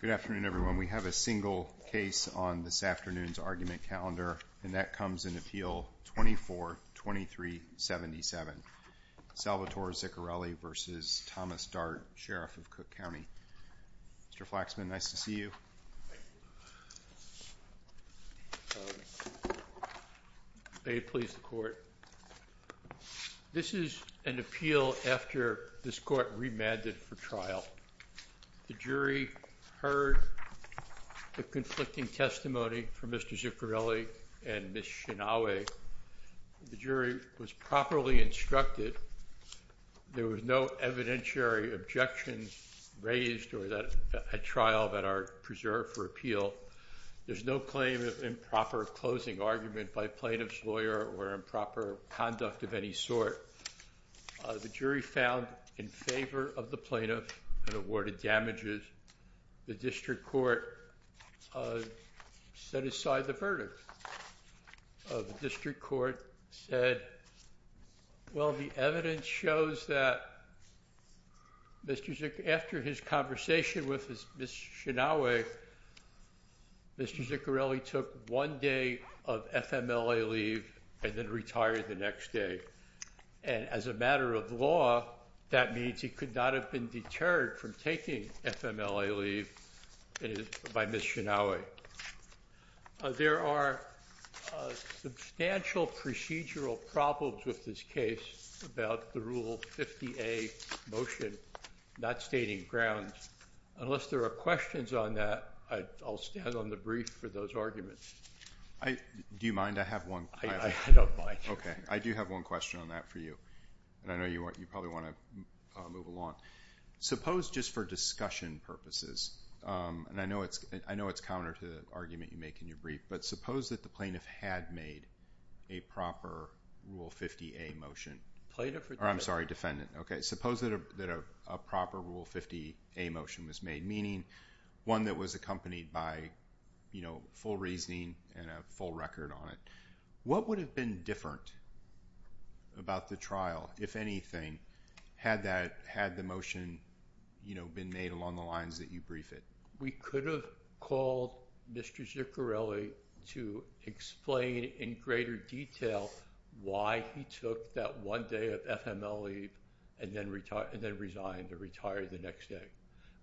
Good afternoon everyone. We have a single case on this afternoon's argument calendar, and that comes in Appeal 24-2377, Salvatore Ziccarelli v. Thomas Dart, Sheriff of Cook County. Mr. Flaxman, nice to see you. May it please the court. This is an appeal after this court remanded for trial. The jury heard the conflicting testimony from Mr. Ziccarelli and Ms. Shinoue. The jury was properly instructed. There was no evidentiary objections raised at trial that are preserved for appeal. There's no claim of improper closing argument by plaintiff's lawyer or improper conduct of any sort. The jury found in favor of the plaintiff and awarded damages. The district court set aside the verdict. The district court said, well, the evidence shows that after his conversation with Ms. Shinoue, Mr. Ziccarelli took one day of FMLA leave and then retired the next day. And as a matter of law, that means he could not have been deterred from taking FMLA leave by Ms. Shinoue. There are substantial procedural problems with this case about the Rule 50A motion not stating grounds. Unless there are questions on that, I'll stand on the brief for those arguments. Do you mind? I have one. I don't mind. Okay. I do have one question on that for you. And I know you probably want to move along. Suppose just for discussion purposes, and I know it's counter to the argument you make in your brief, but suppose that the plaintiff had made a proper Rule 50A motion. I'm sorry, defendant. Okay. Suppose that a proper Rule 50A motion was made, meaning one that was accompanied by full reasoning and a full record on it. What would have been different about the trial, if anything, had the motion been made along the lines that you briefed it? We could have called Mr. Ziccarelli to explain in greater detail why he took that one day of FMLA leave and then resigned or retired the next day.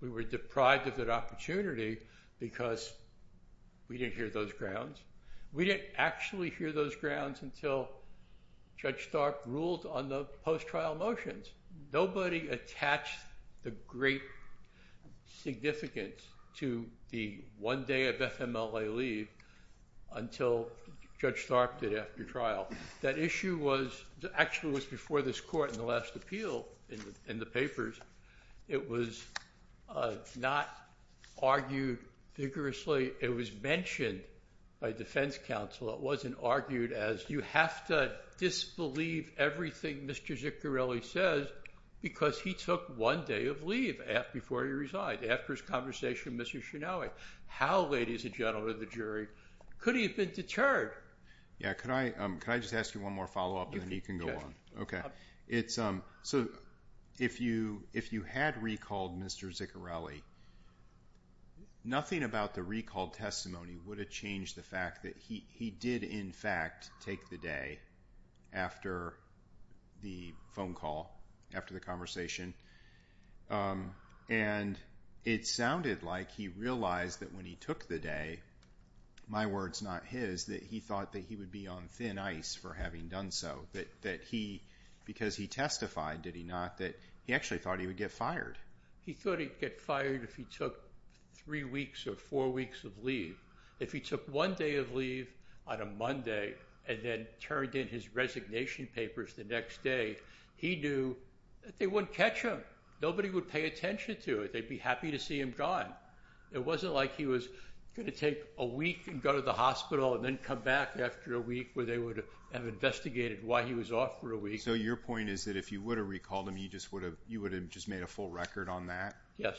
We were deprived of that opportunity because we didn't hear those grounds. Nobody attached the great significance to the one day of FMLA leave until Judge Stark did after trial. That issue actually was before this court in the last appeal in the papers. It was not argued vigorously. It was mentioned by defense counsel. It wasn't argued as, you have to disbelieve everything Mr. Ziccarelli says because he took one day of leave before he resigned, after his conversation with Mr. Shinawi. How, ladies and gentlemen of the jury, could he have been deterred? Could I just ask you one more follow-up and then you can go on. If you had recalled Mr. Ziccarelli, nothing about the recalled testimony would have changed the fact that he did, in fact, take the day after the phone call, after the conversation. It sounded like he realized that when he took the day, my words not his, that he thought that he would be on thin ice for having done so. Because he testified, did he not, that he actually thought he would get fired. He thought he'd get fired if he took three weeks or four weeks of leave. If he took one day of leave on a Monday and then turned in his resignation papers the next day, he knew that they wouldn't catch him. Nobody would pay attention to it. They'd be happy to see him gone. It wasn't like he was going to take a week and go to the hospital and then come back after a week where they would have investigated why he was off for a week. So your point is that if you would have recalled him, you would have just made a full record on that? Yes.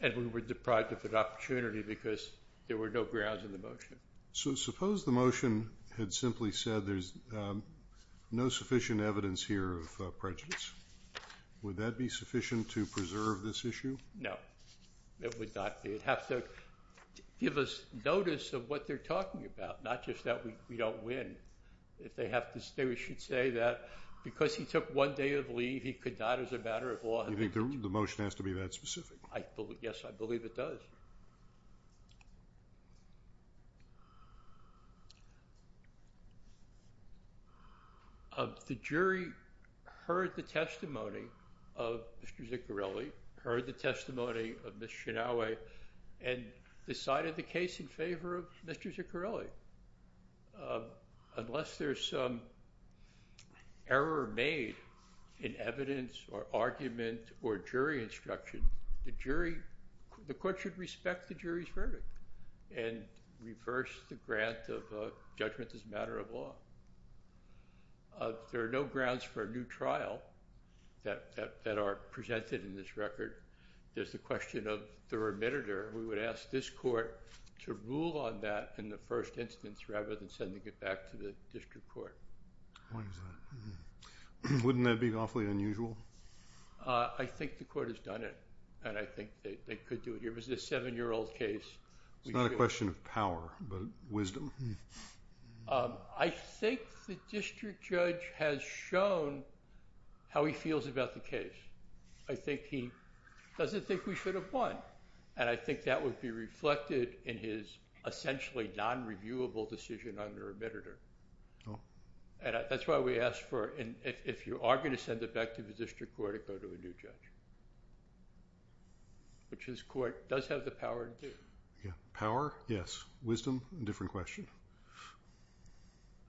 And we were deprived of an opportunity because there were no grounds in the motion. So suppose the motion had simply said there's no sufficient evidence here of prejudice. Would that be sufficient to preserve this issue? No, it would not be. It would have to give us notice of what they're talking about, not just that we don't win. We should say that because he took one day of leave, he could not, as a matter of law. You think the motion has to be that specific? Yes, I believe it does. The jury heard the testimony of Mr. Ziccarelli, heard the testimony of Ms. Shinoue, and decided the case in favor of Mr. Ziccarelli. Unless there's some error made in evidence or argument or jury instruction, the court should respect the jury's verdict and reverse the grant of judgment as a matter of law. There are no grounds for a new trial that are presented in this record. There's the question of the remitter. We would ask this court to rule on that in the first instance rather than sending it back to the district court. Wouldn't that be awfully unusual? I think the court has done it, and I think they could do it. It was a seven-year-old case. It's not a question of power, but wisdom. I think the district judge has shown how he feels about the case. I think he doesn't think we should have won, and I think that would be reflected in his essentially non-reviewable decision on the remitter. That's why we ask if you are going to send it back to the district court, to go to a new judge, which this court does have the power to do. Power, yes. Wisdom, a different question.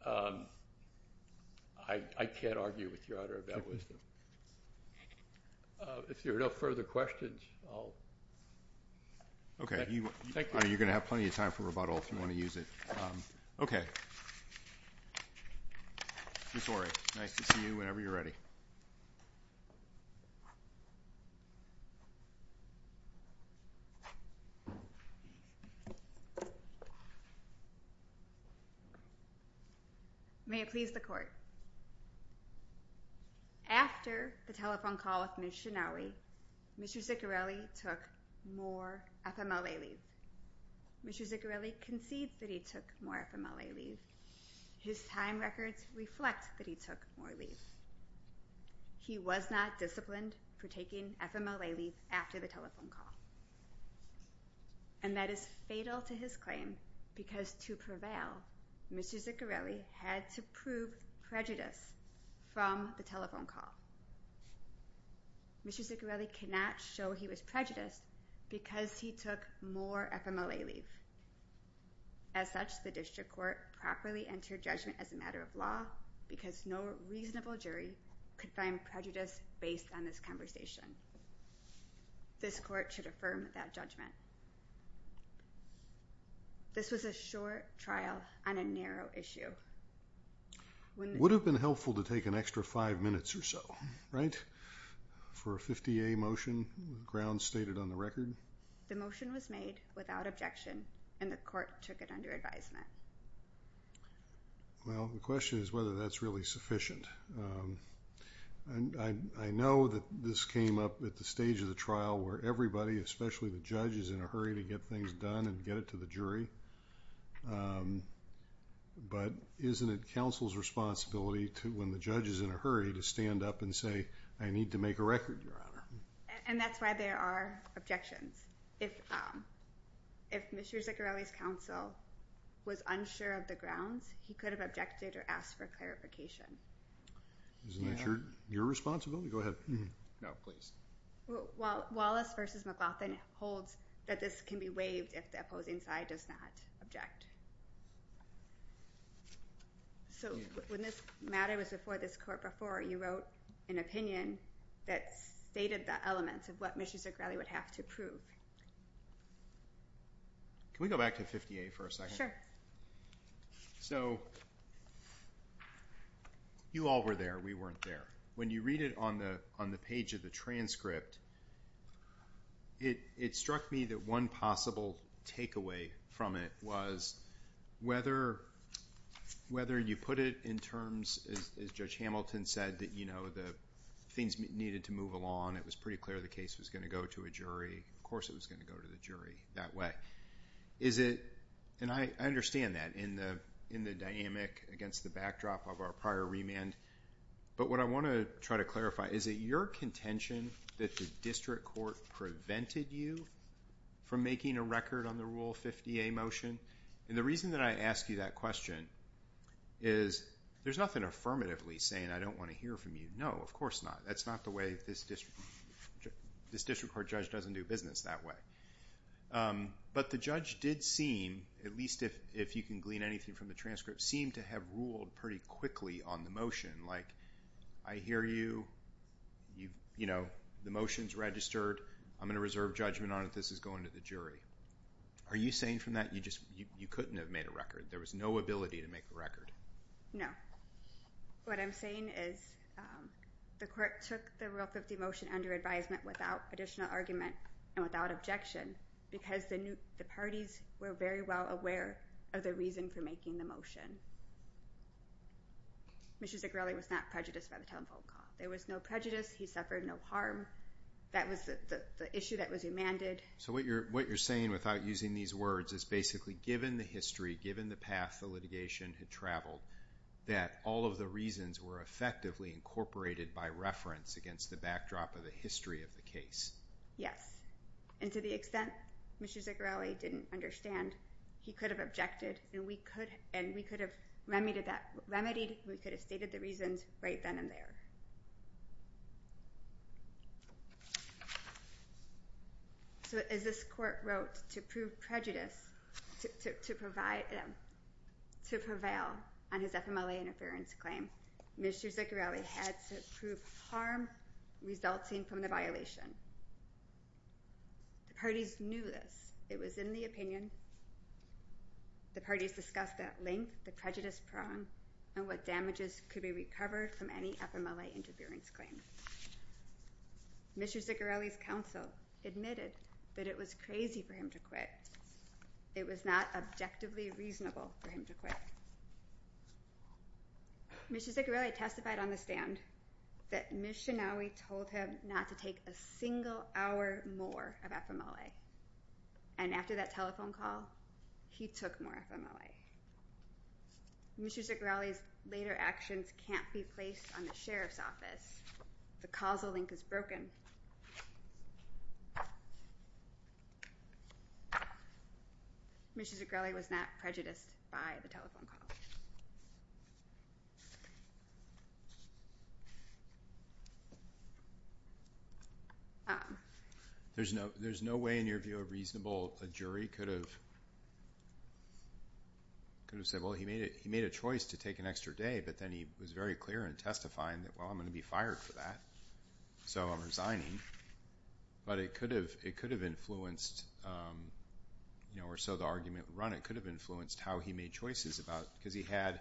I can't argue with Your Honor about wisdom. If there are no further questions, I'll… Okay. You're going to have plenty of time for rebuttal if you want to use it. Okay. Ms. Horry, nice to see you whenever you're ready. May it please the court. After the telephone call with Ms. Shinawi, Mr. Ziccarelli took more FMLA leave. Mr. Ziccarelli concedes that he took more FMLA leave. His time records reflect that he took more leave. He was not disciplined for taking FMLA leave after the telephone call. And that is fatal to his claim because to prevail, Mr. Ziccarelli had to prove prejudice from the telephone call. Mr. Ziccarelli cannot show he was prejudiced because he took more FMLA leave. As such, the district court properly entered judgment as a matter of law because no reasonable jury could find prejudice based on this conversation. This court should affirm that judgment. This was a short trial on a narrow issue. Would have been helpful to take an extra five minutes or so, right? For a 50A motion, grounds stated on the record. The motion was made without objection and the court took it under advisement. Well, the question is whether that's really sufficient. I know that this came up at the stage of the trial where everybody, especially the judge, is in a hurry to get things done and get it to the jury. But isn't it counsel's responsibility when the judge is in a hurry to stand up and say, I need to make a record, Your Honor? And that's why there are objections. If Mr. Ziccarelli's counsel was unsure of the grounds, he could have objected or asked for clarification. Isn't that your responsibility? Go ahead. No, please. Wallace v. McLaughlin holds that this can be waived if the opposing side does not object. So when this matter was before this court before, you wrote an opinion that stated the elements of what Mr. Ziccarelli would have to prove. Can we go back to 50A for a second? So you all were there. We weren't there. When you read it on the page of the transcript, it struck me that one possible takeaway from it was whether you put it in terms, as Judge Hamilton said, that the things needed to move along. It was pretty clear the case was going to go to a jury. Of course it was going to go to the jury that way. And I understand that in the dynamic against the backdrop of our prior remand. But what I want to try to clarify, is it your contention that the district court prevented you from making a record on the Rule 50A motion? And the reason that I ask you that question is there's nothing affirmatively saying I don't want to hear from you. No, of course not. That's not the way this district court judge doesn't do business that way. But the judge did seem, at least if you can glean anything from the transcript, seemed to have ruled pretty quickly on the motion. Like, I hear you. The motion's registered. I'm going to reserve judgment on it. This is going to the jury. Are you saying from that you couldn't have made a record? There was no ability to make a record? No. What I'm saying is the court took the Rule 50 motion under advisement without additional argument and without objection because the parties were very well aware of the reason for making the motion. Mr. Zagrelli was not prejudiced by the telephone call. There was no prejudice. He suffered no harm. That was the issue that was demanded. So what you're saying without using these words is basically given the history, given the path the litigation had traveled, that all of the reasons were effectively incorporated by reference against the backdrop of the history of the case. Yes. And to the extent Mr. Zagrelli didn't understand, he could have objected and we could have remedied. We could have stated the reasons right then and there. So as this court wrote, to prove prejudice, to prevail on his FMLA interference claim, Mr. Zagrelli had to prove harm resulting from the violation. The parties knew this. It was in the opinion. The parties discussed the length, the prejudice prong, and what damages could be recovered from any FMLA interference claim. Mr. Zagrelli's counsel admitted that it was crazy for him to quit. It was not objectively reasonable for him to quit. Mr. Zagrelli testified on the stand that Ms. Shinawi told him not to take a single hour more of FMLA. And after that telephone call, he took more FMLA. Mr. Zagrelli's later actions can't be placed on the sheriff's office. The causal link is broken. Mr. Zagrelli was not prejudiced by the telephone call. There's no way in your view a reasonable jury could have said, well, he made a choice to take an extra day, but then he was very clear in testifying that, well, I'm going to be fired for that, so I'm resigning. But it could have influenced, or so the argument would run, it could have influenced how he made choices about, because he had,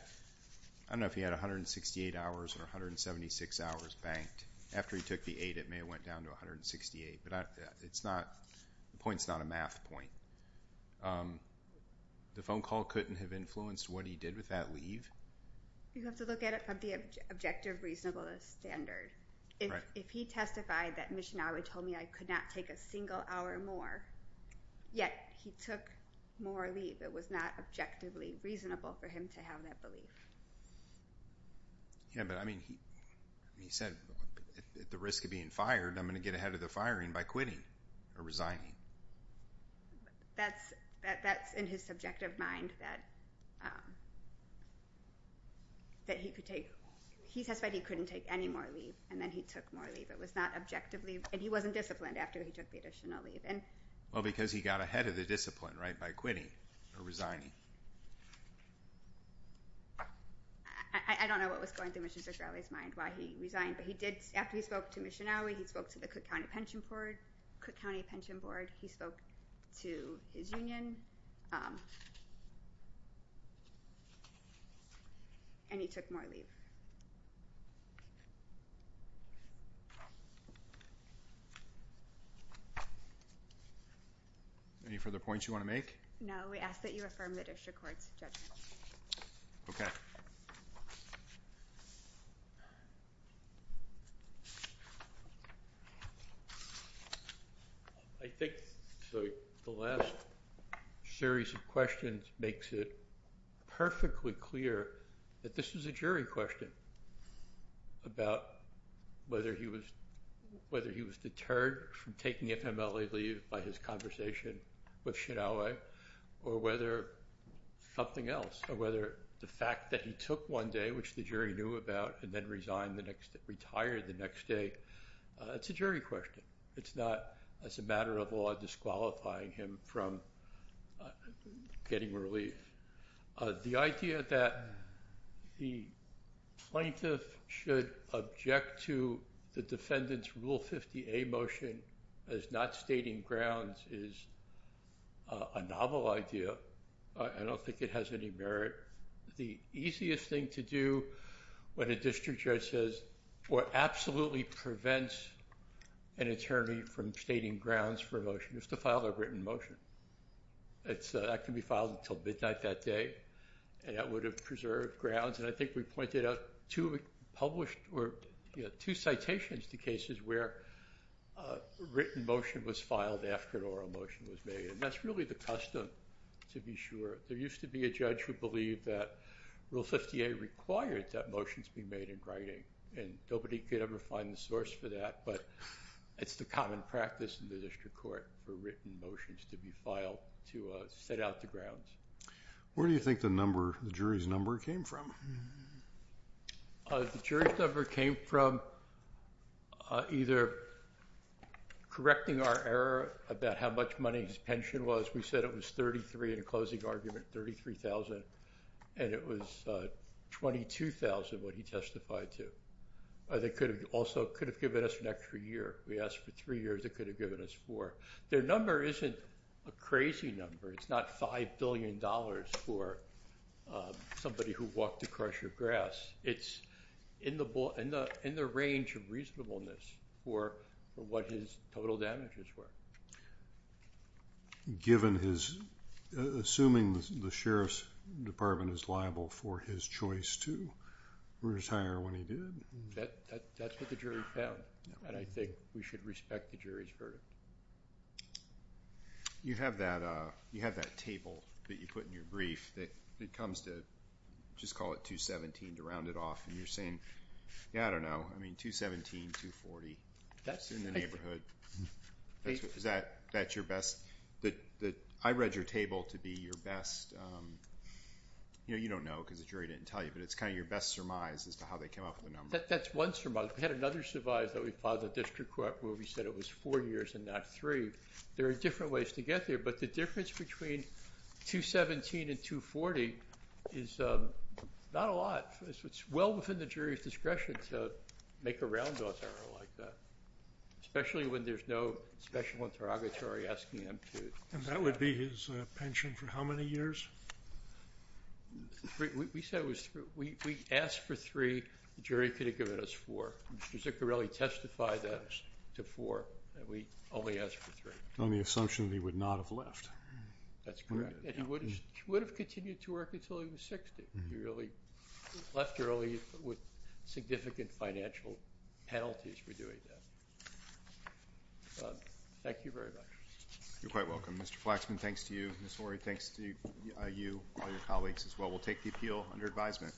I don't know if he had 168 hours or 176 hours banked. After he took the eight, it may have went down to 168, but the point's not a math point. The phone call couldn't have influenced what he did with that leave? You have to look at it from the objective reasonableness standard. If he testified that Ms. Shinawi told me I could not take a single hour more, yet he took more leave, it was not objectively reasonable for him to have that belief. Yeah, but I mean, he said, at the risk of being fired, I'm going to get ahead of the firing by quitting or resigning. That's in his subjective mind, that he could take, he testified he couldn't take any more leave, and then he took more leave. It was not objectively, and he wasn't disciplined after he took the additional leave. Well, because he got ahead of the discipline, right, by quitting or resigning. I don't know what was going through Mr. Shinawi's mind, why he resigned, but he did, after he spoke to Ms. Shinawi, he spoke to the Cook County Pension Board, Cook County Pension Board, he spoke to his union, and he took more leave. Any further points you want to make? No, we ask that you affirm the district court's judgment. Okay. I think the last series of questions makes it perfectly clear that this is a jury question, about whether he was deterred from taking FMLA leave by his conversation with Shinawi, or whether something else, or whether the fact that he took one day, which the jury knew about, and then retired the next day, it's a jury question. It's not, as a matter of law, disqualifying him from getting relief. The idea that the plaintiff should object to the defendant's Rule 50A motion as not stating grounds is a novel idea. I don't think it has any merit. The easiest thing to do when a district judge says, or absolutely prevents an attorney from stating grounds for a motion, is to file a written motion. That can be filed until midnight that day, and that would have preserved grounds, and I think we pointed out two citations to cases where a written motion was filed after an oral motion was made, and that's really the custom, to be sure. There used to be a judge who believed that Rule 50A required that motions be made in writing, and nobody could ever find the source for that, but it's the common practice in the district court for written motions to be filed to set out the grounds. Where do you think the jury's number came from? The jury's number came from either correcting our error about how much money his pension was. Of course, we said it was $33,000 in a closing argument, and it was $22,000 what he testified to. They also could have given us an extra year. We asked for three years. They could have given us four. Their number isn't a crazy number. It's not $5 billion for somebody who walked across your grass. It's in the range of reasonableness for what his total damages were. Assuming the sheriff's department is liable for his choice to retire when he did. That's what the jury found, and I think we should respect the jury's verdict. You have that table that you put in your brief that comes to, just call it 217 to round it off, and you're saying, yeah, I don't know. I mean, 217, 240 in the neighborhood. Is that your best? I read your table to be your best. You don't know because the jury didn't tell you, but it's kind of your best surmise as to how they came up with the number. That's one surmise. We had another surmise that we filed at district court where we said it was four years and not three. There are different ways to get there, but the difference between 217 and 240 is not a lot. It's well within the jury's discretion to make a round off error like that, especially when there's no special interrogatory asking them to. And that would be his pension for how many years? We said it was three. We asked for three. The jury could have given us four. Mr. Zuccarelli testified to four, and we only asked for three. On the assumption that he would not have left. That's correct, and he would have continued to work until he was 60. He really left early with significant financial penalties for doing that. Thank you very much. You're quite welcome. Mr. Flaxman, thanks to you. Ms. Horry, thanks to you, all your colleagues as well. We'll take the appeal under advisement.